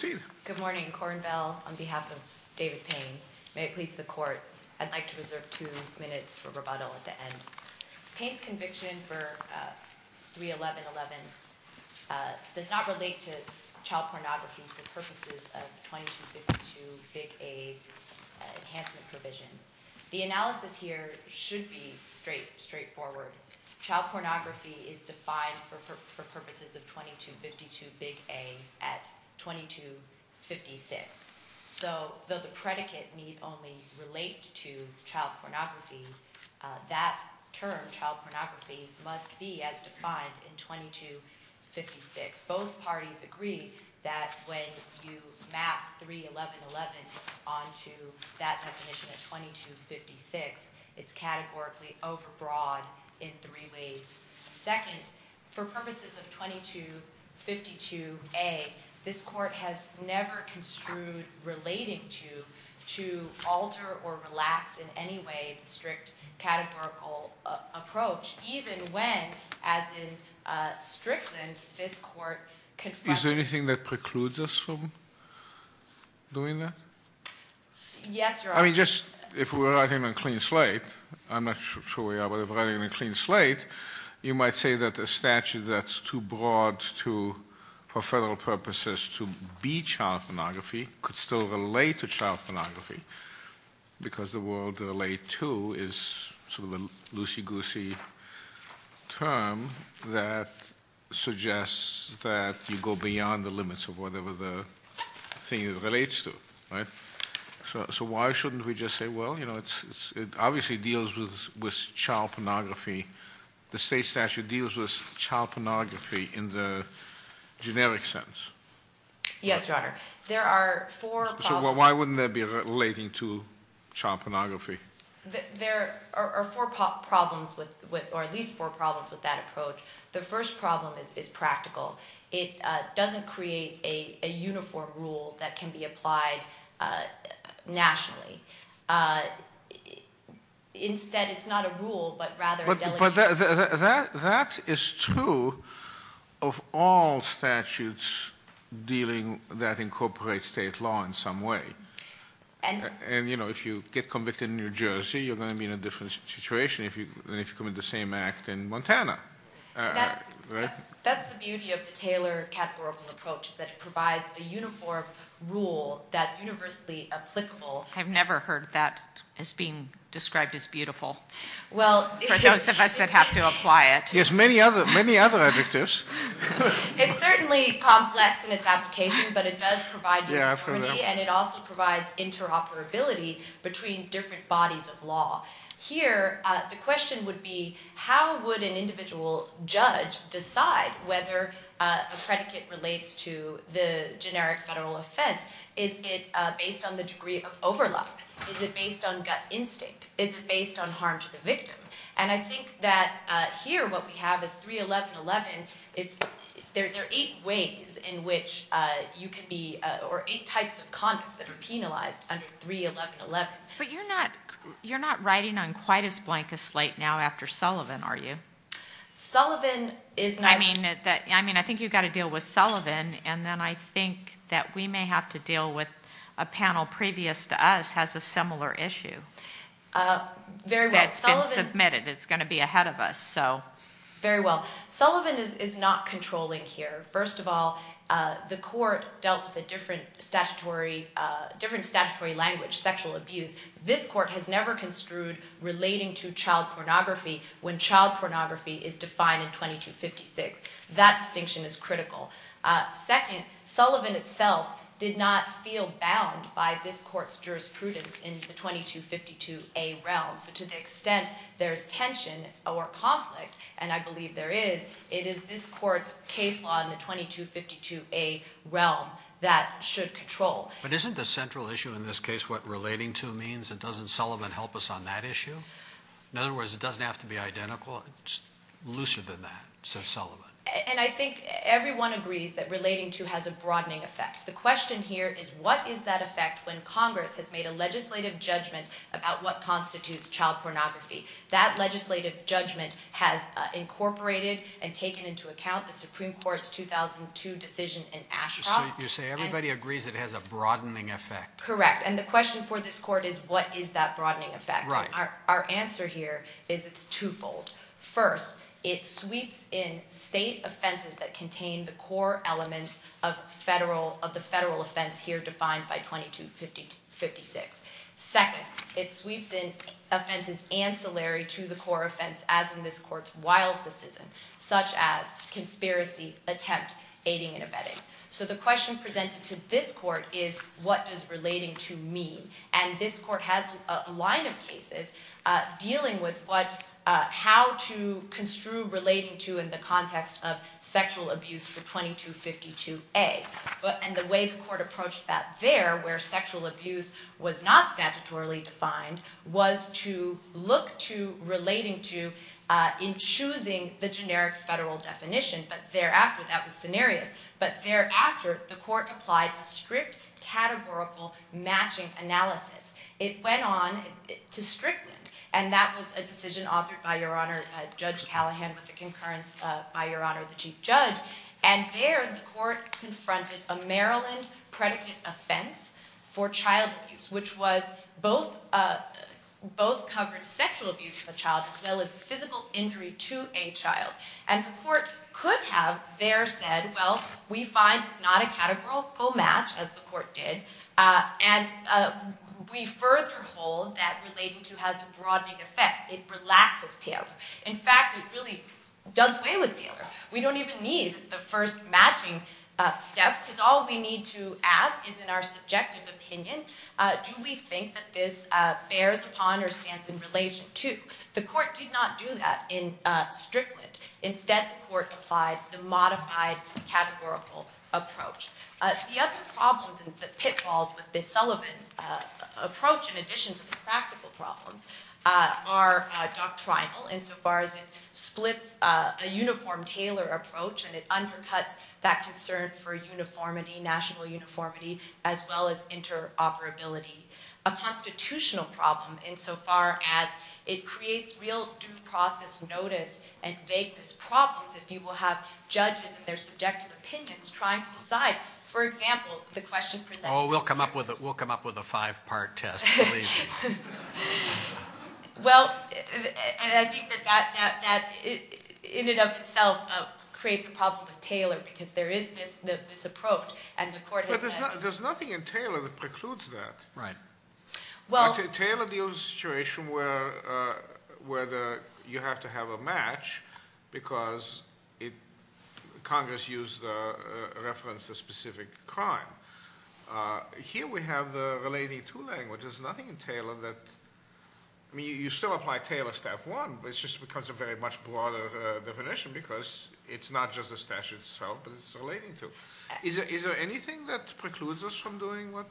Good morning, Cornbell. On behalf of David Paine, may it please the Court, I'd like to reserve two minutes for rebuttal at the end. Paine's conviction for 31111 does not relate to child pornography for purposes of 2252 Big A's enhancement provision. The analysis here should be straightforward. Child pornography is defined for purposes of 2252 Big A at 2256. So though the predicate need only relate to child pornography, that term, child pornography, must be as defined in 2256. Both parties agree that when you map 31111 onto that definition of 2256, it's categorically overbroad in three ways. Second, for purposes of 2252 A, this Court has never construed relating to, to alter or relax in any way the strict categorical approach, even when, as in Strickland, this Court confirmed... Is there anything that precludes us from doing that? Yes, Your Honor. I mean, just, if we're writing on a clean slate, I'm not sure we are, but if we're writing on a clean slate, you might say that a statute that's too broad to, for federal purposes, to be child pornography could still relate to child pornography, because the word relate to is sort of a loosey-goosey term that suggests that you go beyond the limits of whatever the thing relates to, right? So why shouldn't we just say, well, you know, it obviously deals with child pornography. The state statute deals with child pornography in the generic sense. Yes, Your Honor. There are four problems... Why wouldn't that be relating to child pornography? There are four problems with, or at least four problems with that approach. The first problem is practical. It doesn't create a uniform rule that can be applied nationally. Instead, it's not a rule, but rather a delegation... That is true of all statutes dealing that incorporate state law in some way. And, you know, if you get convicted in New Jersey, you're going to be in a different situation than if you commit the same act in Montana. That's the beauty of the Taylor categorical approach, that it provides a uniform rule that's universally applicable. I've never heard that as being described as beautiful. For those of us that have to apply it. Yes, many other adjectives. It's certainly complex in its application, but it does provide... Yeah, I've heard that. And it also provides interoperability between different bodies of law. Here, the question would be, how would an individual judge decide whether a predicate relates to the generic federal offense? Is it based on the degree of overlap? Is it based on gut instinct? Is it based on harm to the victim? And I think that here what we have is 311.11. There are eight ways in which you can be... Or eight types of conduct that are penalized under 311.11. But you're not writing on quite as blank a slate now after Sullivan, are you? Sullivan is... I mean, I think you've got to deal with Sullivan. And then I think that we may have to deal with a panel previous to us has a similar issue that's been submitted. It's going to be ahead of us, so... Very well. Sullivan is not controlling here. First of all, the court dealt with a different statutory language, sexual abuse. This court has never construed relating to child pornography when child pornography is defined in 2256. That distinction is critical. Second, Sullivan itself did not feel bound by this court's jurisprudence in the 2252A realm. So to the extent there's tension or conflict, and I believe there is, it is this court's case law in the 2252A realm that should control. But isn't the central issue in this case what relating to means? Doesn't Sullivan help us on that issue? In other words, it doesn't have to be identical. Well, it's looser than that. So Sullivan. And I think everyone agrees that relating to has a broadening effect. The question here is what is that effect when Congress has made a legislative judgment about what constitutes child pornography? That legislative judgment has incorporated and taken into account the Supreme Court's 2002 decision in Ashcroft. So you say everybody agrees it has a broadening effect. Correct. And the question for this court is what is that broadening effect? Right. So our answer here is it's twofold. First, it sweeps in state offenses that contain the core elements of the federal offense here defined by 2256. Second, it sweeps in offenses ancillary to the core offense as in this court's Wiles decision, such as conspiracy, attempt, aiding and abetting. So the question presented to this court is what does relating to mean? And this court has a line of cases dealing with how to construe relating to in the context of sexual abuse for 2252A. And the way the court approached that there, where sexual abuse was not statutorily defined, was to look to relating to in choosing the generic federal definition. But thereafter, that was scenarios. But thereafter, the court applied a strict categorical matching analysis. It went on to Strickland. And that was a decision authored by Your Honor Judge Callahan with a concurrence by Your Honor the Chief Judge. And there the court confronted a Maryland predicate offense for child abuse, which was both covered sexual abuse of a child as well as physical injury to a child. And the court could have there said, well, we find it's not a categorical match, as the court did, and we further hold that relating to has a broadening effect. It relaxes Taylor. In fact, it really does away with Taylor. We don't even need the first matching step because all we need to ask is in our subjective opinion, do we think that this bears upon or stands in relation to? The court did not do that in Strickland. Instead, the court applied the modified categorical approach. The other problems and pitfalls with the Sullivan approach, in addition to the practical problems, are doctrinal insofar as it splits a uniform Taylor approach, and it undercuts that concern for uniformity, national uniformity, as well as interoperability. A constitutional problem insofar as it creates real due process notice and vagueness problems if you will have judges and their subjective opinions trying to decide. For example, the question presented to the court. Oh, we'll come up with a five-part test. Well, and I think that that in and of itself creates a problem with Taylor because there is this approach. There's nothing in Taylor that precludes that. Right. Taylor deals with a situation where you have to have a match because Congress referenced a specific crime. Here we have the relating to language. There's nothing in Taylor that, I mean, you still apply Taylor step one, but it just becomes a very much broader definition because it's not just the statute itself, but it's relating to. Is there anything that precludes us from doing what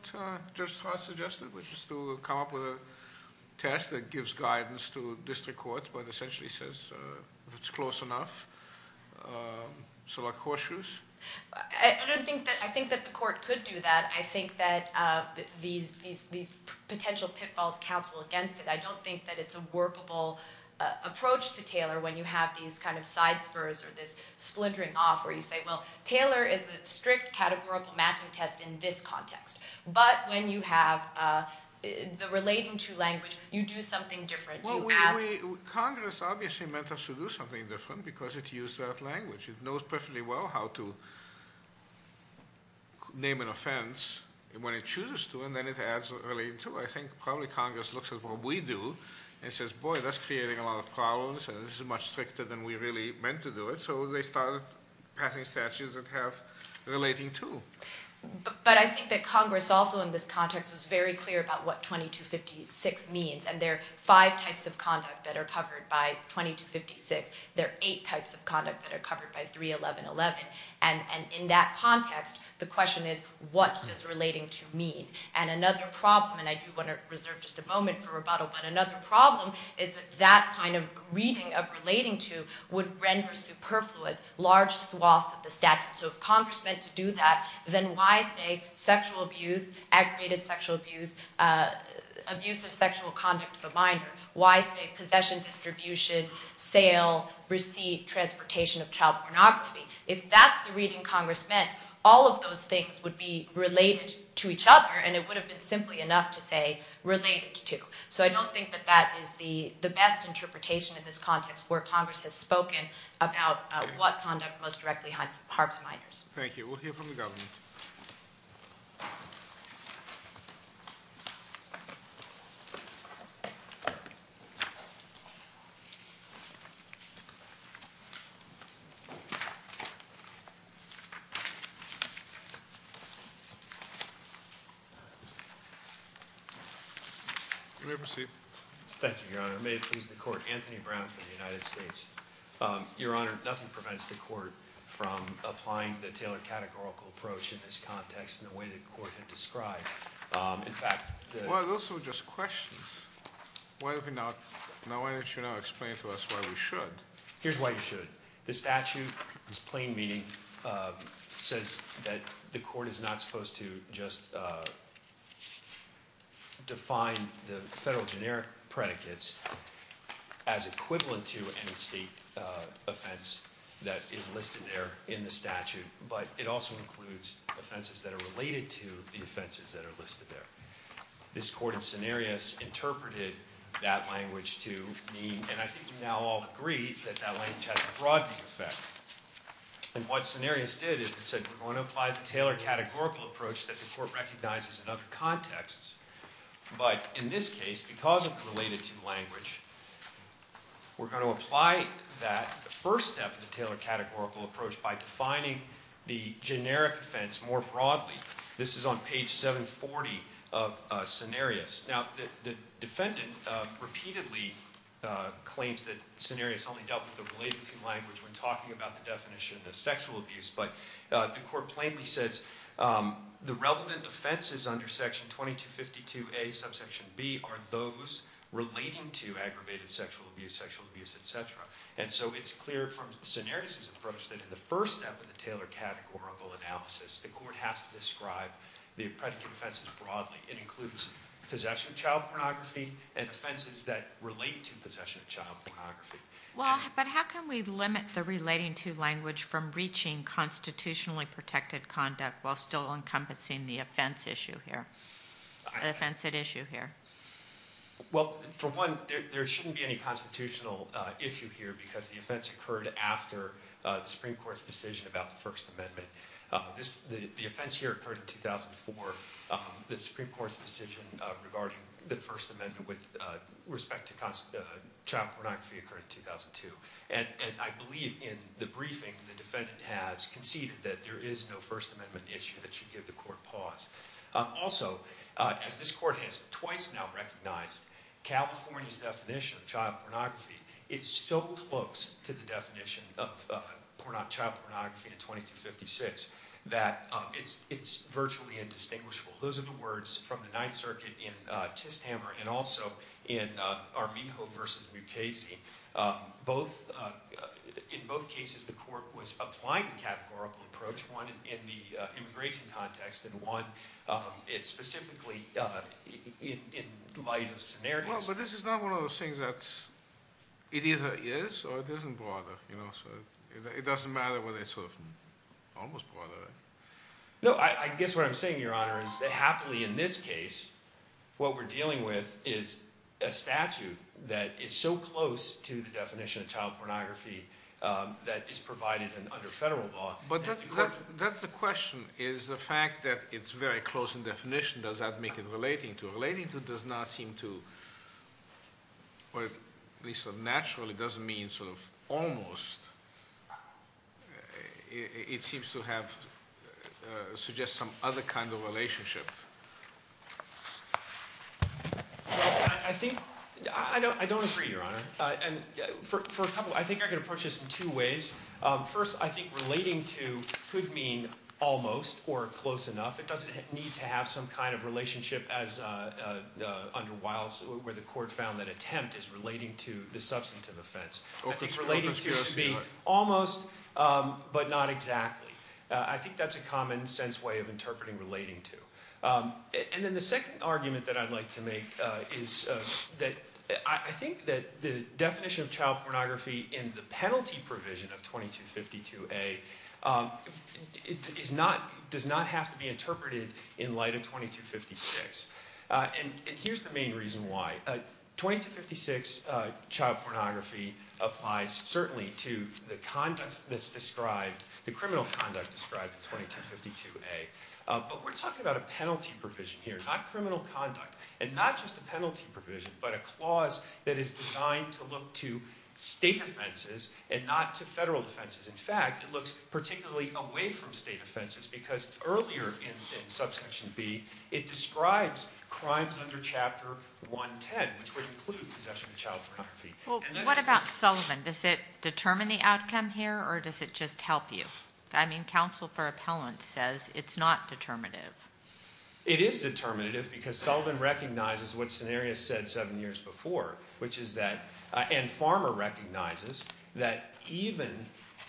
Judge Hart suggested, which is to come up with a test that gives guidance to district courts, but essentially says if it's close enough, select horseshoes? I don't think that. I think that the court could do that. I think that these potential pitfalls counsel against it. I don't think that it's a workable approach to Taylor when you have these kind of side spurs or this splintering off where you say, well, Taylor is the strict categorical matching test in this context. But when you have the relating to language, you do something different. Congress obviously meant us to do something different because it used that language. It knows perfectly well how to name an offense when it chooses to, and then it adds relating to. I think probably Congress looks at what we do and says, boy, that's creating a lot of problems, and this is much stricter than we really meant to do it. So they started passing statutes that have relating to. But I think that Congress also in this context was very clear about what 2256 means, and there are five types of conduct that are covered by 2256. There are eight types of conduct that are covered by 3111. And in that context, the question is what does relating to mean? And another problem, and I do want to reserve just a moment for rebuttal, but another problem is that that kind of reading of relating to would render superfluous large swaths of the statute. So if Congress meant to do that, then why say sexual abuse, aggravated sexual abuse, abuse of sexual conduct of a binder? Why say possession, distribution, sale, receipt, transportation of child pornography? If that's the reading Congress meant, all of those things would be related to each other, and it would have been simply enough to say related to. So I don't think that that is the best interpretation in this context where Congress has spoken about what conduct most directly harms minors. Thank you. You may proceed. Thank you, Your Honor. May it please the Court. Anthony Brown from the United States. Your Honor, nothing prevents the Court from applying the Taylor categorical approach in this context in the way the Court had described. In fact, the- Well, those were just questions. Why don't you now explain to us why we should? Here's why you should. The statute's plain meaning says that the Court is not supposed to just define the federal generic predicates as equivalent to any state offense that is listed there in the statute, but it also includes offenses that are related to the offenses that are listed there. This Court in Cenarius interpreted that language to mean, and I think you now all agree, that that language has a broadening effect. And what Cenarius did is it said we're going to apply the Taylor categorical approach that the Court recognizes in other contexts, but in this case, because it's related to language, we're going to apply that first step of the Taylor categorical approach by defining the generic offense more broadly. This is on page 740 of Cenarius. Now, the defendant repeatedly claims that Cenarius only dealt with the related to language when talking about the definition of sexual abuse, but the Court plainly says the relevant offenses under section 2252A, subsection B, are those relating to aggravated sexual abuse, sexual abuse, etc. And so it's clear from Cenarius' approach that in the first step of the Taylor categorical analysis, the Court has to describe the predicate offenses broadly. It includes possession of child pornography and offenses that relate to possession of child pornography. Well, but how can we limit the relating to language from reaching constitutionally protected conduct while still encompassing the offense at issue here? Well, for one, there shouldn't be any constitutional issue here because the offense occurred after the Supreme Court's decision about the First Amendment. The offense here occurred in 2004. The Supreme Court's decision regarding the First Amendment with respect to child pornography occurred in 2002. And I believe in the briefing, the defendant has conceded that there is no First Amendment issue that should give the Court pause. Also, as this Court has twice now recognized, California's definition of child pornography is so close to the definition of child pornography in 2256 that it's virtually indistinguishable. Those are the words from the Ninth Circuit in Tishhammer and also in Armijo v. Mukasey. In both cases, the Court was applying the categorical approach, one in the immigration context and one specifically in light of scenarios. Well, but this is not one of those things that it either is or it isn't broader. It doesn't matter whether it's sort of almost broader. No, I guess what I'm saying, Your Honor, is that happily in this case, what we're dealing with is a statute that is so close to the definition of child pornography that it's provided under federal law. But that's the question, is the fact that it's very close in definition, does that make it relating to it? Relating to it does not seem to, or at least not naturally, doesn't mean sort of almost. It seems to have, suggest some other kind of relationship. I think, I don't agree, Your Honor. For a couple, I think I can approach this in two ways. First, I think relating to could mean almost or close enough. It doesn't need to have some kind of relationship as under Wiles where the Court found that attempt is relating to the substantive offense. I think relating to should be almost but not exactly. I think that's a common sense way of interpreting relating to. And then the second argument that I'd like to make is that I think that the definition of child pornography in the penalty provision of 2252A does not have to be interpreted in light of 2256. And here's the main reason why. 2256 child pornography applies certainly to the conduct that's described, the criminal conduct described in 2252A. But we're talking about a penalty provision here, not criminal conduct. And not just a penalty provision, but a clause that is designed to look to state offenses and not to federal offenses. In fact, it looks particularly away from state offenses because earlier in Subsection B, it describes crimes under Chapter 110, which would include possession of child pornography. Well, what about Sullivan? Does it determine the outcome here or does it just help you? I mean, counsel for appellant says it's not determinative. It is determinative because Sullivan recognizes what Cenarius said seven years before, which is that, and Farmer recognizes, that even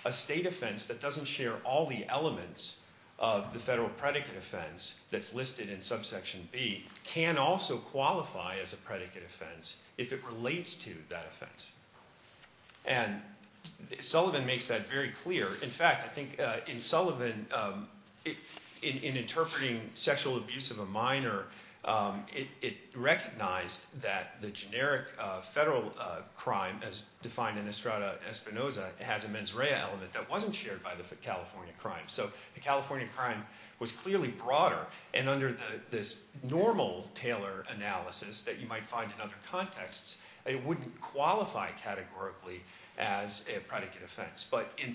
a state offense that doesn't share all the elements of the federal predicate offense that's listed in Subsection B can also qualify as a predicate offense if it relates to that offense. And Sullivan makes that very clear. In fact, I think in Sullivan, in interpreting sexual abuse of a minor, it recognized that the generic federal crime as defined in Estrada Espinoza has a mens rea element that wasn't shared by the California crime. So the California crime was clearly broader. And under this normal Taylor analysis that you might find in other contexts, it wouldn't qualify categorically as a predicate offense. But in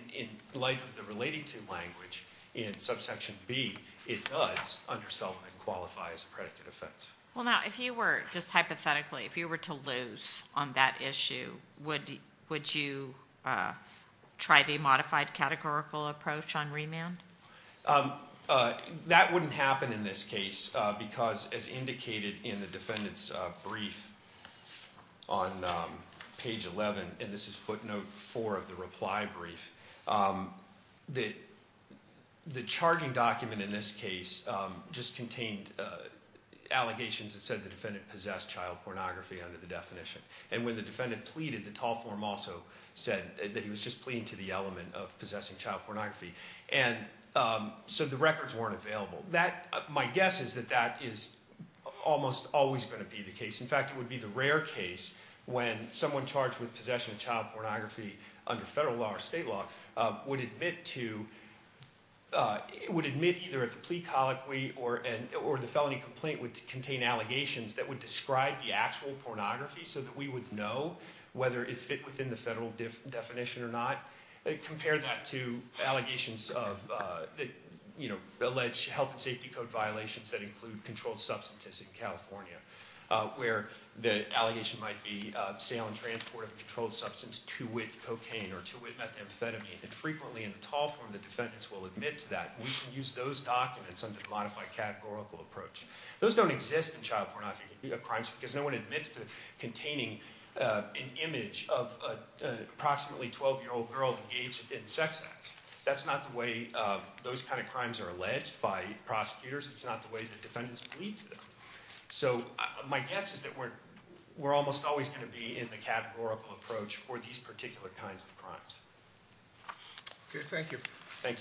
light of the relating to language in Subsection B, it does under Sullivan qualify as a predicate offense. Well, now, if you were, just hypothetically, if you were to lose on that issue, would you try the modified categorical approach on remand? That wouldn't happen in this case because, as indicated in the defendant's brief on page 11, and this is footnote four of the reply brief, the charging document in this case just contained allegations that said the defendant possessed child pornography under the definition. And when the defendant pleaded, the tall form also said that he was just pleading to the element of possessing child pornography. And so the records weren't available. My guess is that that is almost always going to be the case. In fact, it would be the rare case when someone charged with possession of child pornography under federal law or state law would admit to, would admit either at the plea colloquy or the felony complaint would contain allegations that would describe the actual pornography so that we would know whether it fit within the federal definition or not. Compare that to allegations of, you know, alleged health and safety code violations that include controlled substances in California, where the allegation might be sale and transport of a controlled substance to wit cocaine or to wit methamphetamine. And frequently in the tall form, the defendants will admit to that. We can use those documents under the modified categorical approach. Those don't exist in child pornography crimes because no one admits to containing an image of approximately 12 year old girl engaged in sex acts. That's not the way those kind of crimes are alleged by prosecutors. It's not the way the defendants plead to them. So my guess is that we're almost always going to be in the categorical approach for these particular kinds of crimes. Thank you. Thank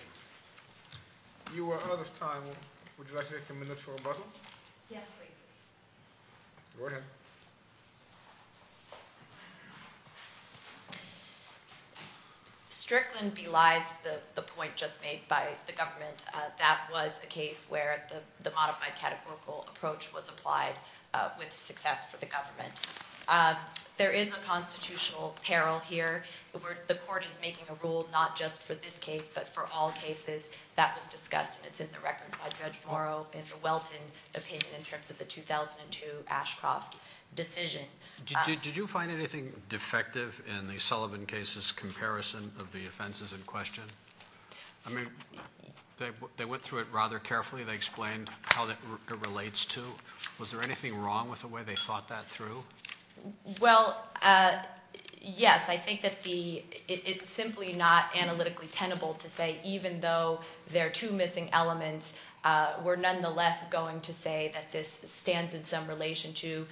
you. You are out of time. Would you like to take a minute for rebuttal? Yes, please. Go ahead. Strickland belies the point just made by the government. That was a case where the modified categorical approach was applied with success for the government. There is a constitutional peril here. The court is making a rule not just for this case but for all cases. That was discussed, and it's in the record by Judge Morrow in the Welton opinion in terms of the 2002 Ashcroft decision. Did you find anything defective in the Sullivan case's comparison of the offenses in question? I mean, they went through it rather carefully. They explained how it relates to. Was there anything wrong with the way they thought that through? Well, yes. I think that it's simply not analytically tenable to say even though there are two missing elements, we're nonetheless going to say that this stands in some relation to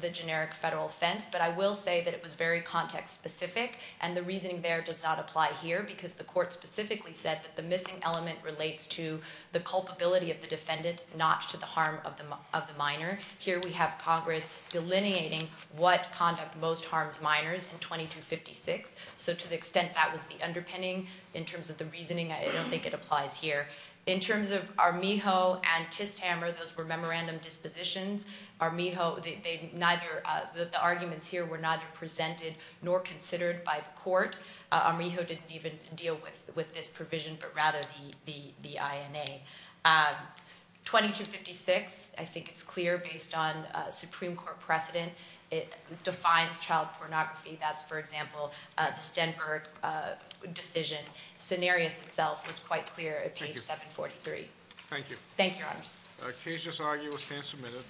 the generic federal offense. But I will say that it was very context-specific, and the reasoning there does not apply here because the court specifically said that the missing element relates to the culpability of the defendant, not to the harm of the minor. Here we have Congress delineating what conduct most harms minors in 2256. So to the extent that was the underpinning in terms of the reasoning, I don't think it applies here. In terms of Armijo and Tishhammer, those were memorandum dispositions. The arguments here were neither presented nor considered by the court. Armijo didn't even deal with this provision but rather the INA. 2256, I think it's clear, based on Supreme Court precedent, defines child pornography. That's, for example, the Stenberg decision. Cenarius itself was quite clear at page 743. Thank you. Thank you, Your Honors. The case is argued and submitted.